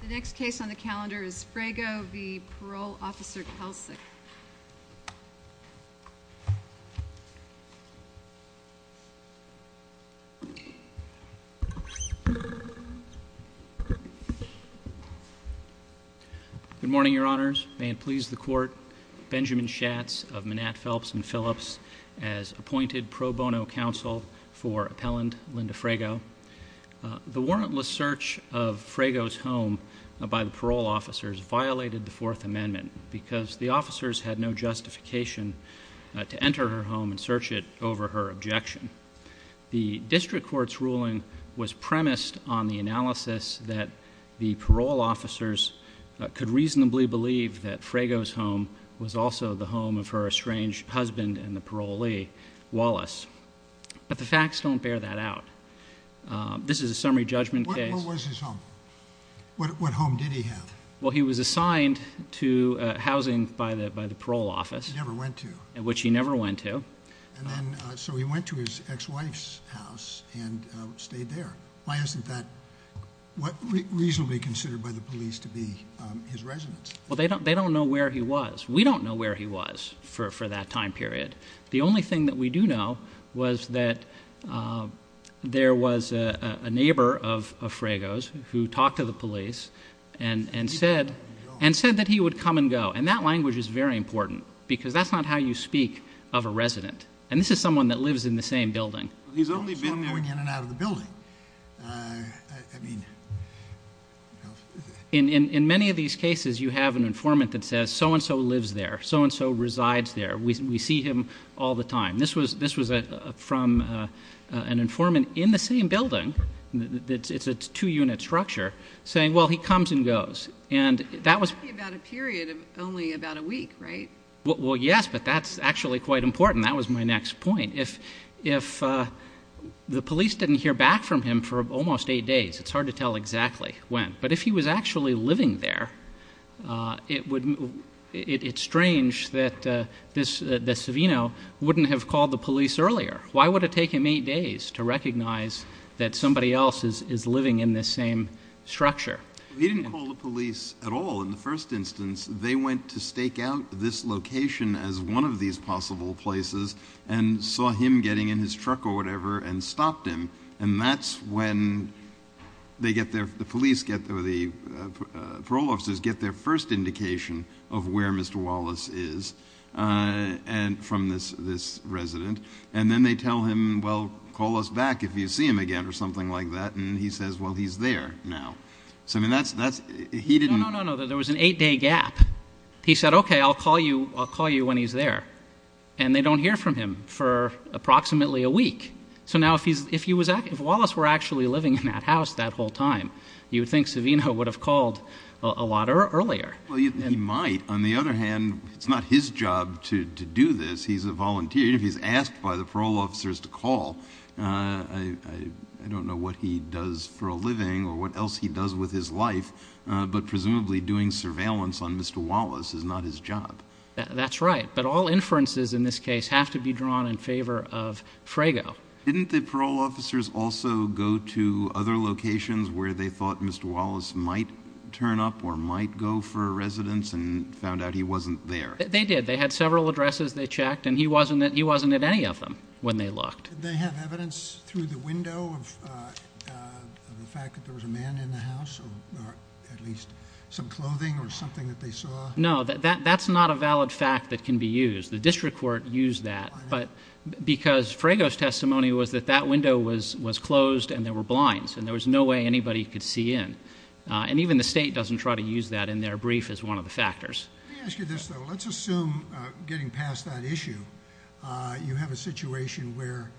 The next case on the calendar is Frago v. Parole Officer Kelsic. Good morning, Your Honors. May it please the Court, Benjamin Schatz of Manat, Phelps & Phillips as appointed pro bono counsel for appellant Linda Frago. The warrantless search of Frago's home by the parole officers violated the Fourth Amendment because the officers had no justification to enter her home and search it over her objection. The district court's ruling was premised on the analysis that the parole officers could reasonably believe that Frago's home was also the home of her estranged husband and the parolee, Wallace. But the facts don't bear that out. This is a summary judgment case. What was his home? What home did he have? Well, he was assigned to housing by the parole office. He never went to. Which he never went to. So he went to his ex-wife's house and stayed there. Why isn't that reasonably considered by the police to be his residence? Well, they don't know where he was. We don't know where he was for that time period. The only thing that we do know was that there was a neighbor of Frago's who talked to the police and said that he would come and go, and that language is very important because that's not how you speak of a resident. And this is someone that lives in the same building. He's only been there. Someone going in and out of the building. In many of these cases, you have an informant that says, so-and-so lives there, so-and-so resides there. We see him all the time. This was from an informant in the same building. It's a two-unit structure, saying, well, he comes and goes. And that was about a period of only about a week, right? Well, yes, but that's actually quite important. That was my next point. If the police didn't hear back from him for almost eight days, it's hard to tell exactly when. But if he was actually living there, it's strange that Savino wouldn't have called the police earlier. Why would it take him eight days to recognize that somebody else is living in this same structure? He didn't call the police at all in the first instance. They went to stake out this location as one of these possible places and saw him getting in his truck or whatever and stopped him. And that's when the police or the parole officers get their first indication of where Mr. Wallace is from this resident. And then they tell him, well, call us back if you see him again or something like that. And he says, well, he's there now. No, no, no, there was an eight-day gap. He said, okay, I'll call you when he's there. So now if Wallace were actually living in that house that whole time, you would think Savino would have called a lot earlier. He might. On the other hand, it's not his job to do this. He's a volunteer. If he's asked by the parole officers to call, I don't know what he does for a living or what else he does with his life. But presumably doing surveillance on Mr. Wallace is not his job. That's right. But all inferences in this case have to be drawn in favor of Frago. Didn't the parole officers also go to other locations where they thought Mr. Wallace might turn up or might go for a residence and found out he wasn't there? They did. They had several addresses they checked, and he wasn't at any of them when they looked. Did they have evidence through the window of the fact that there was a man in the house or at least some clothing or something that they saw? No, that's not a valid fact that can be used. The district court used that because Frago's testimony was that that window was closed and there were blinds, and there was no way anybody could see in. And even the state doesn't try to use that in their brief as one of the factors. Let me ask you this, though. Let's assume getting past that issue, you have a situation where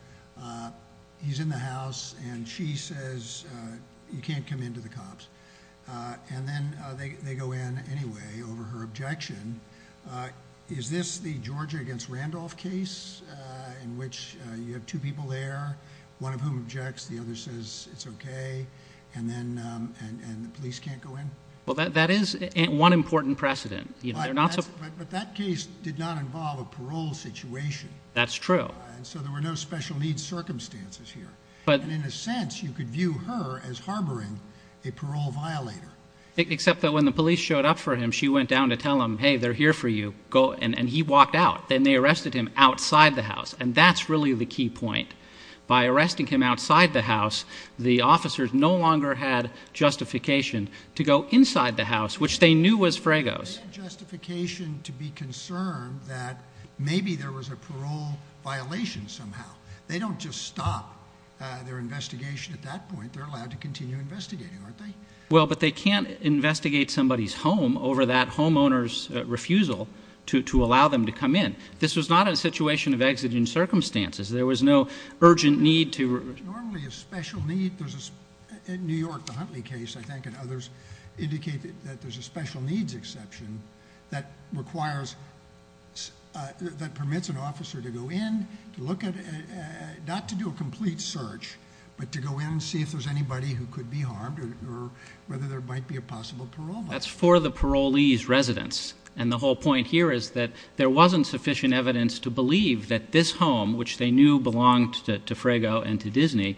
he's in the house and she says you can't come in to the cops, and then they go in anyway over her objection. Is this the Georgia against Randolph case in which you have two people there, one of whom objects, the other says it's okay, and then the police can't go in? Well, that is one important precedent. But that case did not involve a parole situation. That's true. And so there were no special needs circumstances here. And in a sense, you could view her as harboring a parole violator. Except that when the police showed up for him, she went down to tell him, hey, they're here for you, and he walked out. Then they arrested him outside the house, and that's really the key point. By arresting him outside the house, the officers no longer had justification to go inside the house, which they knew was Frago's. They had justification to be concerned that maybe there was a parole violation somehow. They don't just stop their investigation at that point. They're allowed to continue investigating, aren't they? Well, but they can't investigate somebody's home over that homeowner's refusal to allow them to come in. This was not a situation of exiting circumstances. There was no urgent need to ---- Normally a special need, there's a New York, the Huntley case, I think, and others indicate that there's a special needs exception that requires, that permits an officer to go in, to look at, not to do a complete search, but to go in and see if there's anybody who could be harmed or whether there might be a possible parole violation. That's for the parolee's residence. And the whole point here is that there wasn't sufficient evidence to believe that this home, which they knew belonged to Frago and to Disney,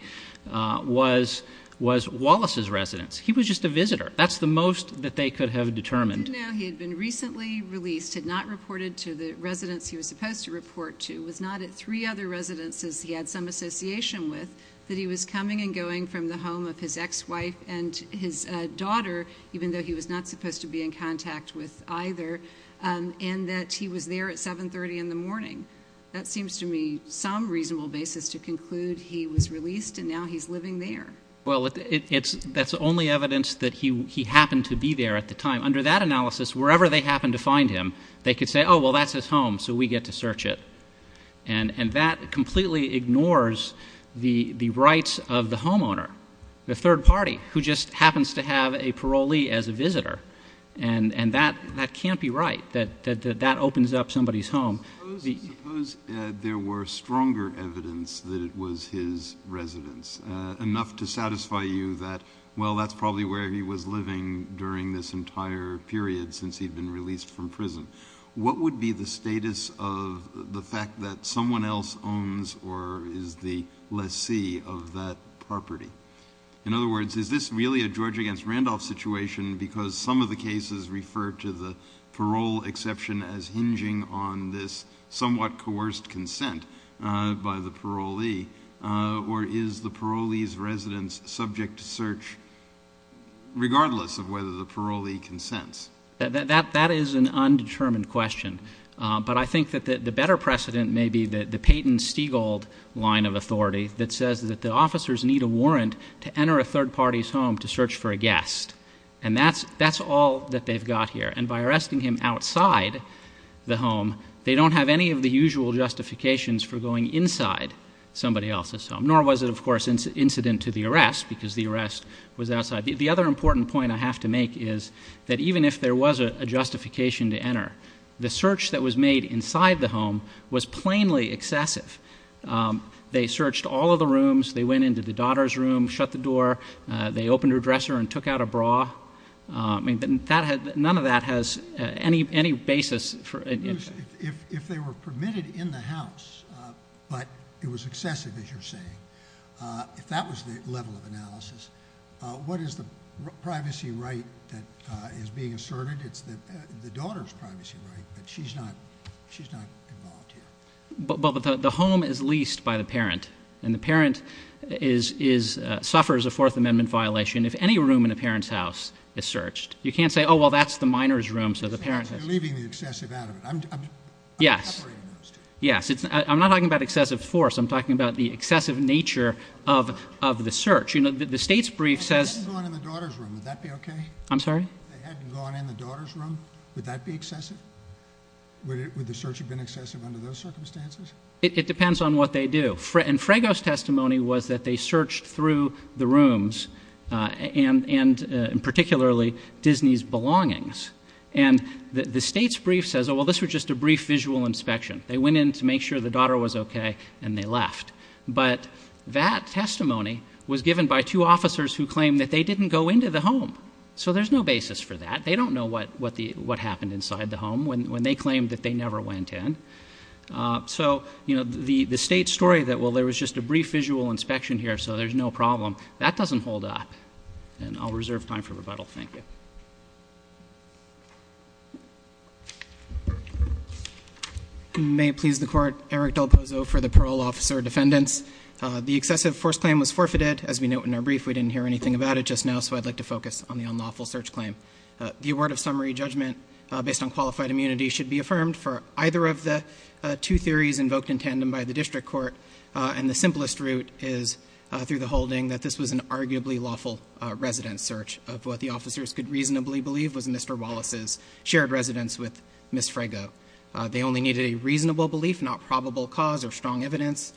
was Wallace's residence. He was just a visitor. That's the most that they could have determined. He did know he had been recently released, had not reported to the residence he was supposed to report to, was not at three other residences he had some association with, that he was coming and going from the home of his ex-wife and his daughter, even though he was not supposed to be in contact with either, and that he was there at 730 in the morning. That seems to me some reasonable basis to conclude he was released and now he's living there. Well, that's the only evidence that he happened to be there at the time. Under that analysis, wherever they happened to find him, they could say, oh, well, that's his home, so we get to search it. And that completely ignores the rights of the homeowner, the third party, who just happens to have a parolee as a visitor. And that can't be right, that that opens up somebody's home. Suppose there were stronger evidence that it was his residence, enough to satisfy you that, well, that's probably where he was living during this entire period since he'd been released from prison. What would be the status of the fact that someone else owns or is the lessee of that property? In other words, is this really a George v. Randolph situation because some of the cases refer to the parole exception as hinging on this somewhat coerced consent by the parolee, or is the parolee's residence subject to search regardless of whether the parolee consents? That is an undetermined question. But I think that the better precedent may be the Peyton-Steagall line of authority that says that the officers need a warrant to enter a third party's home to search for a guest, and that's all that they've got here. And by arresting him outside the home, they don't have any of the usual justifications for going inside somebody else's home, nor was it, of course, incident to the arrest because the arrest was outside. The other important point I have to make is that even if there was a justification to enter, the search that was made inside the home was plainly excessive. They searched all of the rooms. They went into the daughter's room, shut the door. They opened her dresser and took out a bra. None of that has any basis. If they were permitted in the house but it was excessive, as you're saying, if that was the level of analysis, what is the privacy right that is being asserted? It's the daughter's privacy right, but she's not involved here. But the home is leased by the parent, and the parent suffers a Fourth Amendment violation if any room in the parent's house is searched. You can't say, oh, well, that's the minor's room, so the parent has to leave. You're leaving the excessive out of it. Yes. I'm not talking about excessive force. I'm talking about the excessive nature of the search. The state's brief says— If they hadn't gone in the daughter's room, would that be okay? If they hadn't gone in the daughter's room, would that be excessive? Would the search have been excessive under those circumstances? It depends on what they do. And Frago's testimony was that they searched through the rooms, and particularly Disney's belongings. And the state's brief says, oh, well, this was just a brief visual inspection. They went in to make sure the daughter was okay, and they left. But that testimony was given by two officers who claimed that they didn't go into the home. So there's no basis for that. They don't know what happened inside the home when they claimed that they never went in. So, you know, the state's story that, well, there was just a brief visual inspection here, so there's no problem, that doesn't hold up. And I'll reserve time for rebuttal. Thank you. May it please the Court, Eric Del Pozo for the parole officer defendants. The excessive force claim was forfeited. As we note in our brief, we didn't hear anything about it just now, and so I'd like to focus on the unlawful search claim. The award of summary judgment based on qualified immunity should be affirmed for either of the two theories invoked in tandem by the district court. And the simplest route is through the holding that this was an arguably lawful resident search of what the officers could reasonably believe was Mr. Wallace's shared residence with Ms. Frago. They only needed a reasonable belief, not probable cause or strong evidence.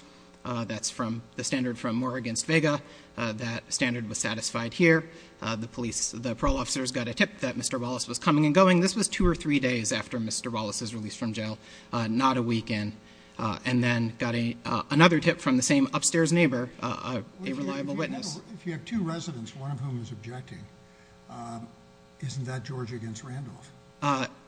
That's from the standard from Moore v. Vega. That standard was satisfied here. The parole officers got a tip that Mr. Wallace was coming and going. This was two or three days after Mr. Wallace was released from jail, not a weekend. And then got another tip from the same upstairs neighbor, a reliable witness. If you have two residents, one of whom is objecting, isn't that George v. Randolph?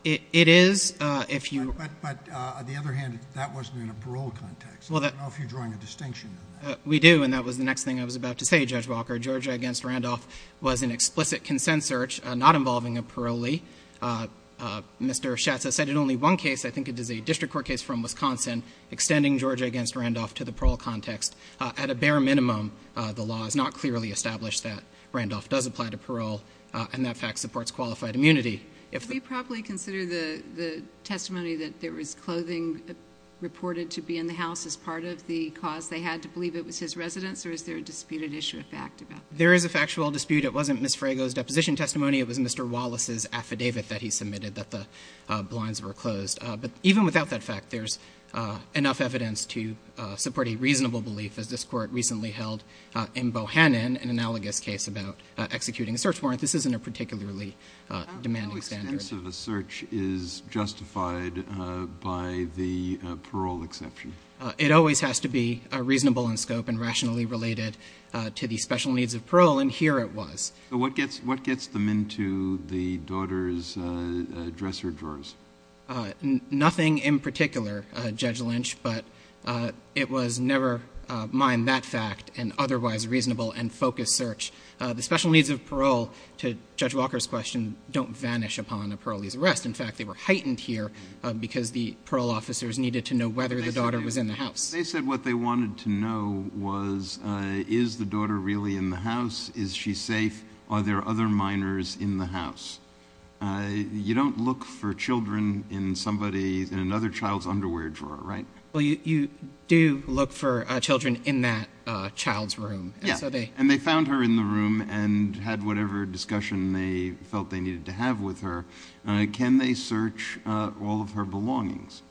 It is. But on the other hand, that wasn't in a parole context. I don't know if you're drawing a distinction in that. We do, and that was the next thing I was about to say, Judge Walker. George v. Randolph was an explicit consent search not involving a parolee. Mr. Schatz has cited only one case. I think it is a district court case from Wisconsin extending George v. Randolph to the parole context. At a bare minimum, the law is not clearly established that Randolph does apply to parole and that fact supports qualified immunity. If we properly consider the testimony that there was clothing reported to be in the house as part of the cause they had to believe it was his residence, or is there a disputed issue of fact about that? There is a factual dispute. It wasn't Ms. Frago's deposition testimony. It was Mr. Wallace's affidavit that he submitted that the blinds were closed. But even without that fact, there's enough evidence to support a reasonable belief, as this court recently held in Bohannon, an analogous case about executing a search warrant. This isn't a particularly demanding standard. The purpose of a search is justified by the parole exception. It always has to be reasonable in scope and rationally related to the special needs of parole, and here it was. What gets them into the daughter's dresser drawers? Nothing in particular, Judge Lynch, but it was never, mind that fact, an otherwise reasonable and focused search. The special needs of parole, to Judge Walker's question, don't vanish upon a parolee's arrest. In fact, they were heightened here because the parole officers needed to know whether the daughter was in the house. They said what they wanted to know was, is the daughter really in the house? Is she safe? Are there other minors in the house? You don't look for children in somebody's, in another child's underwear drawer, right? Well, you do look for children in that child's room. Yeah, and they found her in the room and had whatever discussion they felt they needed to have with her. Can they search all of her belongings?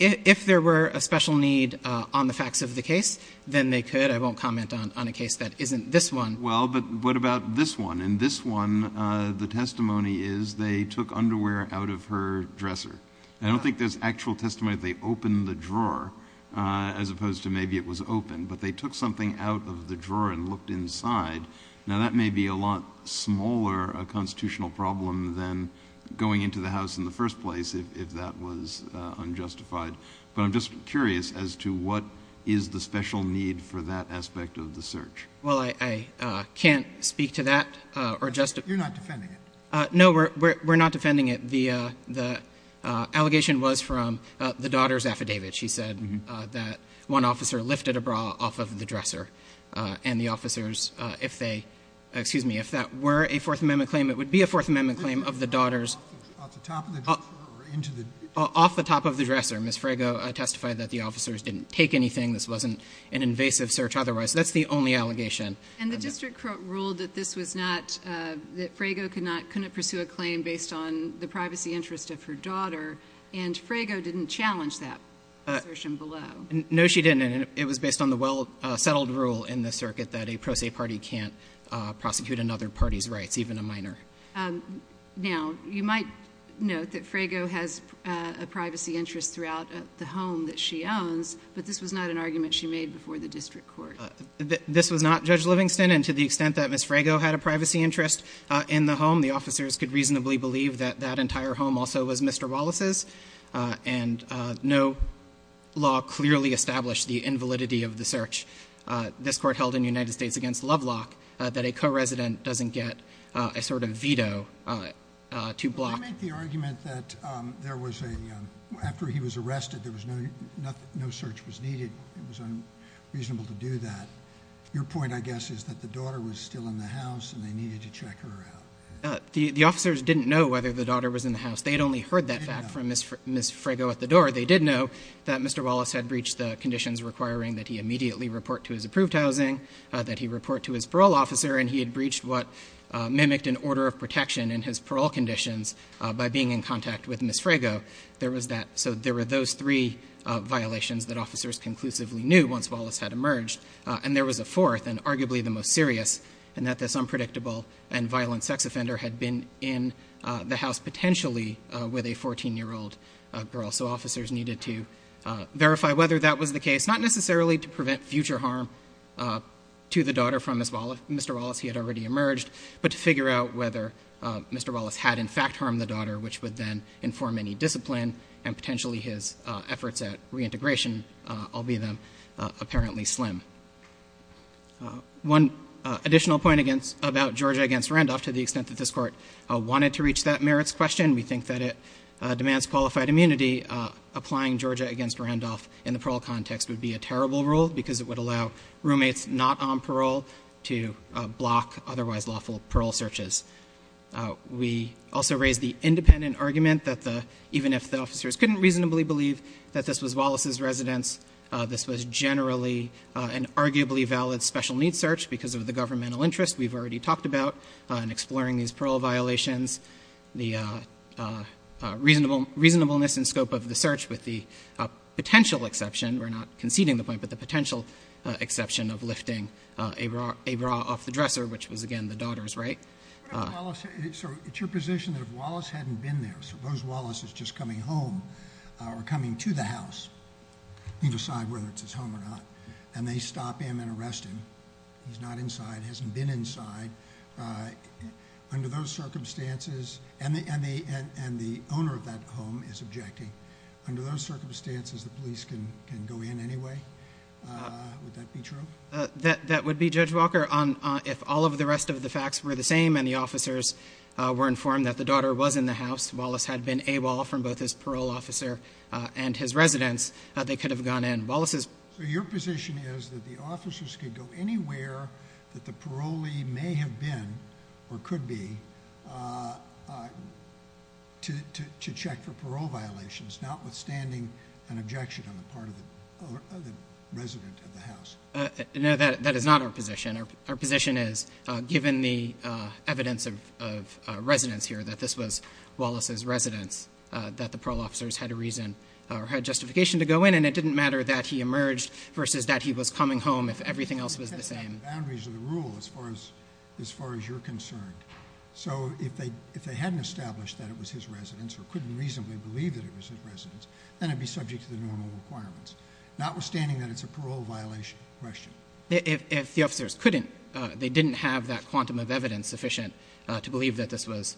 If there were a special need on the facts of the case, then they could. I won't comment on a case that isn't this one. Well, but what about this one? In this one, the testimony is they took underwear out of her dresser. I don't think there's actual testimony that they opened the drawer as opposed to maybe it was open, but they took something out of the drawer and looked inside. Now, that may be a lot smaller a constitutional problem than going into the house in the first place if that was unjustified. But I'm just curious as to what is the special need for that aspect of the search. Well, I can't speak to that or just to – You're not defending it. No, we're not defending it. The allegation was from the daughter's affidavit. She said that one officer lifted a bra off of the dresser and the officers, if they – excuse me, if that were a Fourth Amendment claim, it would be a Fourth Amendment claim of the daughter's – Off the top of the dresser or into the dresser? Off the top of the dresser. Ms. Frago testified that the officers didn't take anything. This wasn't an invasive search otherwise. That's the only allegation. And the district court ruled that this was not – that Frago couldn't pursue a claim based on the privacy interest of her daughter, and Frago didn't challenge that assertion below. No, she didn't, and it was based on the well-settled rule in the circuit that a pro se party can't prosecute another party's rights, even a minor. Now, you might note that Frago has a privacy interest throughout the home that she owns, but this was not an argument she made before the district court. This was not, Judge Livingston, and to the extent that Ms. Frago had a privacy interest in the home, the officers could reasonably believe that that entire home also was Mr. Wallace's, and no law clearly established the invalidity of the search. This court held in the United States against Lovelock that a co-resident doesn't get a sort of veto to block. I make the argument that there was a – after he was arrested, there was no – no search was needed. It was unreasonable to do that. Your point, I guess, is that the daughter was still in the house and they needed to check her out. The officers didn't know whether the daughter was in the house. They had only heard that fact from Ms. Frago at the door. They did know that Mr. Wallace had breached the conditions requiring that he immediately report to his approved housing, that he report to his parole officer, and he had breached what mimicked an order of protection in his parole conditions by being in contact with Ms. Frago. There was that – so there were those three violations that officers conclusively knew once Wallace had emerged, and there was a fourth and arguably the most serious, and that this unpredictable and violent sex offender had been in the house potentially with a 14-year-old girl. So officers needed to verify whether that was the case, not necessarily to prevent future harm to the daughter from Mr. Wallace, he had already emerged, but to figure out whether Mr. Wallace had in fact harmed the daughter, which would then inform any discipline and potentially his efforts at reintegration, albeit them apparently slim. One additional point about Georgia against Randolph, to the extent that this Court wanted to reach that merits question, we think that it demands qualified immunity. Applying Georgia against Randolph in the parole context would be a terrible rule because it would allow roommates not on parole to block otherwise lawful parole searches. We also raise the independent argument that the – even if the officers couldn't reasonably believe that this was Wallace's residence, this was generally an arguably valid special needs search because of the governmental interest we've already talked about in exploring these parole violations. The reasonableness and scope of the search with the potential exception – we're not conceding the point, but the potential exception of lifting a bra off the dresser, which was again the daughter's, right? It's your position that if Wallace hadn't been there, suppose Wallace is just coming home or coming to the house, leave aside whether it's his home or not, and they stop him and arrest him, he's not inside, hasn't been inside, under those circumstances, and the owner of that home is objecting, under those circumstances the police can go in anyway? Would that be true? That would be, Judge Walker, if all of the rest of the facts were the same and the officers were informed that the daughter was in the house, Wallace had been AWOL from both his parole officer and his residence, they could have gone in. So your position is that the officers could go anywhere that the parolee may have been or could be to check for parole violations, notwithstanding an objection on the part of the resident of the house? No, that is not our position. Our position is given the evidence of residence here, that this was Wallace's residence, that the parole officers had a reason or had justification to go in and it didn't matter that he emerged versus that he was coming home if everything else was the same. That's not the boundaries of the rule as far as you're concerned. So if they hadn't established that it was his residence or couldn't reasonably believe that it was his residence, then it would be subject to the normal requirements, notwithstanding that it's a parole violation question. If the officers couldn't, they didn't have that quantum of evidence sufficient to believe that this was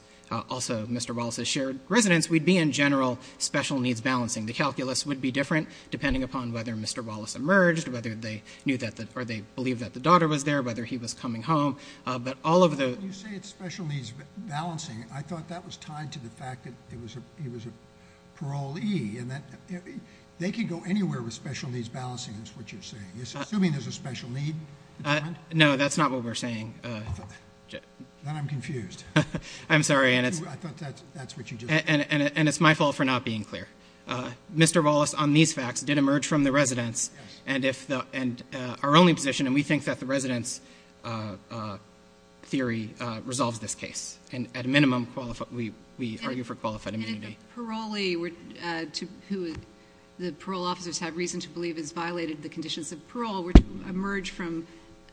also Mr. Wallace's shared residence, we'd be in general special needs balancing. The calculus would be different depending upon whether Mr. Wallace emerged, whether they knew that or they believed that the daughter was there, whether he was coming home. When you say it's special needs balancing, I thought that was tied to the fact that he was a parolee. They could go anywhere with special needs balancing is what you're saying. You're assuming there's a special need? No, that's not what we're saying. Then I'm confused. I'm sorry. I thought that's what you just said. And it's my fault for not being clear. Mr. Wallace on these facts did emerge from the residence and our only position, and we think that the residence theory resolves this case and at a minimum we argue for qualified immunity. And the parolee, who the parole officers have reason to believe has violated the conditions of parole, would emerge from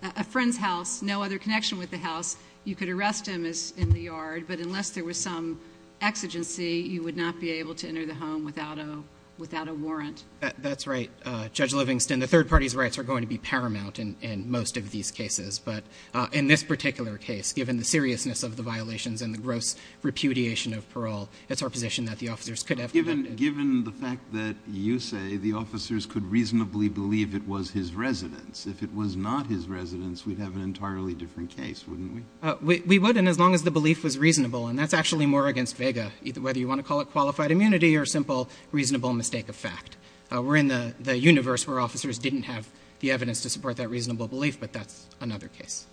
a friend's house, no other connection with the house. You could arrest him in the yard, but unless there was some exigency, you would not be able to enter the home without a warrant. That's right, Judge Livingston. The third party's rights are going to be paramount in most of these cases, but in this particular case, given the seriousness of the violations and the gross repudiation of parole, it's our position that the officers could have prevented it. Given the fact that you say the officers could reasonably believe it was his residence, if it was not his residence, we'd have an entirely different case, wouldn't we? We would, and as long as the belief was reasonable, and that's actually more against vega, whether you want to call it qualified immunity or a simple reasonable mistake of fact. We're in the universe where officers didn't have the evidence to support that reasonable belief, but that's another case.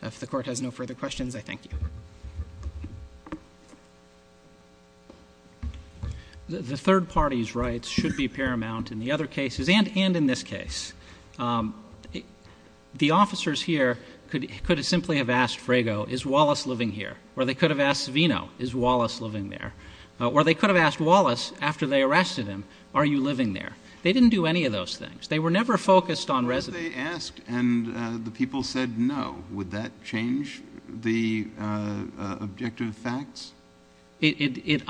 If the court has no further questions, I thank you. The third party's rights should be paramount in the other cases and in this case. The officers here could have simply have asked Frago, is Wallace living here, or they could have asked Savino, is Wallace living there, or they could have asked Wallace after they arrested him, are you living there. They didn't do any of those things. They were never focused on residence. If they asked and the people said no, would that change the objective facts? It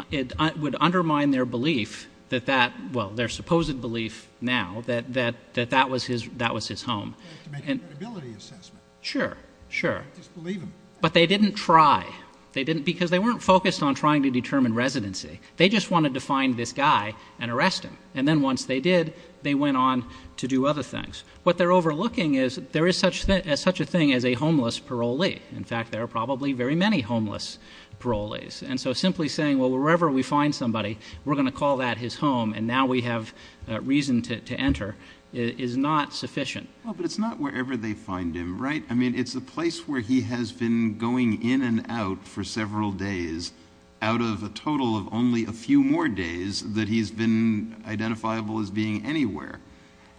would undermine their belief that that, well, their supposed belief now, that that was his home. They have to make an ability assessment. Sure, sure. Just believe him. But they didn't try. Because they weren't focused on trying to determine residency. They just wanted to find this guy and arrest him. And then once they did, they went on to do other things. What they're overlooking is there is such a thing as a homeless parolee. In fact, there are probably very many homeless parolees. And so simply saying, well, wherever we find somebody, we're going to call that his home and now we have reason to enter is not sufficient. But it's not wherever they find him, right? I mean, it's a place where he has been going in and out for several days out of a total of only a few more days that he's been identifiable as being anywhere.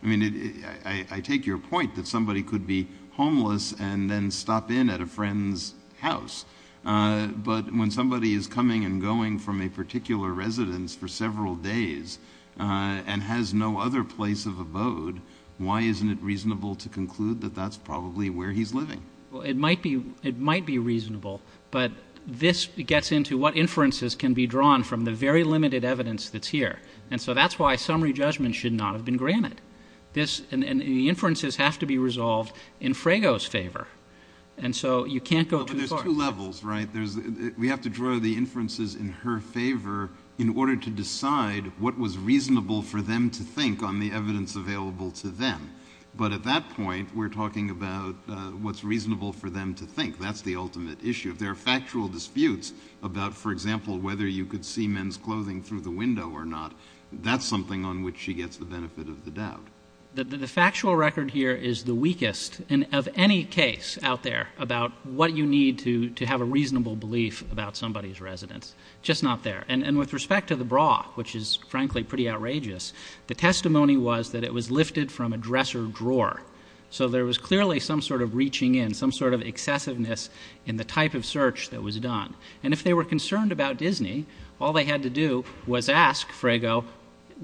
I mean, I take your point that somebody could be homeless and then stop in at a friend's house. But when somebody is coming and going from a particular residence for several days and has no other place of abode, why isn't it reasonable to conclude that that's probably where he's living? Well, it might be reasonable. But this gets into what inferences can be drawn from the very limited evidence that's here. And so that's why summary judgment should not have been granted. And the inferences have to be resolved in Frago's favor. And so you can't go too far. But there's two levels, right? We have to draw the inferences in her favor in order to decide what was reasonable for them to think on the evidence available to them. But at that point, we're talking about what's reasonable for them to think. That's the ultimate issue. If there are factual disputes about, for example, whether you could see men's clothing through the window or not, that's something on which she gets the benefit of the doubt. The factual record here is the weakest of any case out there about what you need to have a reasonable belief about somebody's residence. Just not there. And with respect to the bra, which is frankly pretty outrageous, the testimony was that it was lifted from a dresser drawer. So there was clearly some sort of reaching in, some sort of excessiveness in the type of search that was done. And if they were concerned about Disney, all they had to do was ask Frago,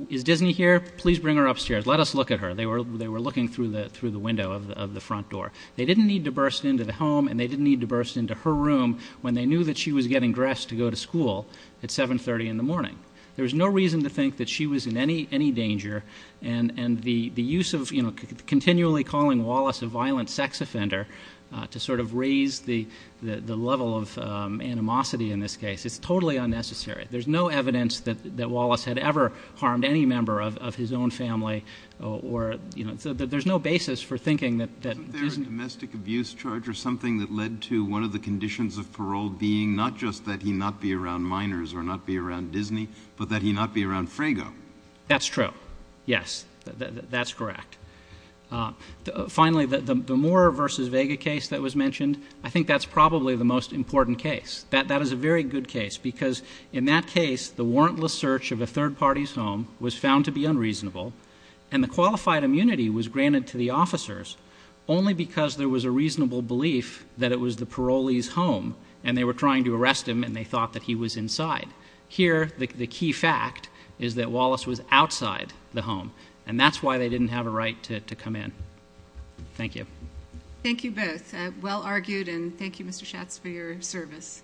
is Disney here? Please bring her upstairs. Let us look at her. They were looking through the window of the front door. They didn't need to burst into the home and they didn't need to burst into her room when they knew that she was getting dressed to go to school at 730 in the morning. There was no reason to think that she was in any danger. And the use of continually calling Wallace a violent sex offender to sort of raise the level of animosity in this case, it's totally unnecessary. There's no evidence that Wallace had ever harmed any member of his own family. There's no basis for thinking that Disney was in any danger. Isn't there a domestic abuse charge or something that led to one of the conditions of parole being not just that he not be around minors or not be around Disney, but that he not be around Frago? That's true. Yes, that's correct. Finally, the Moore v. Vega case that was mentioned, I think that's probably the most important case. That is a very good case because in that case, the warrantless search of a third party's home was found to be unreasonable and the qualified immunity was granted to the officers only because there was a reasonable belief that it was the parolee's home and they were trying to arrest him and they thought that he was inside. Here, the key fact is that Wallace was outside the home and that's why they didn't have a right to come in. Thank you. Thank you both. Well argued and thank you, Mr. Schatz, for your service.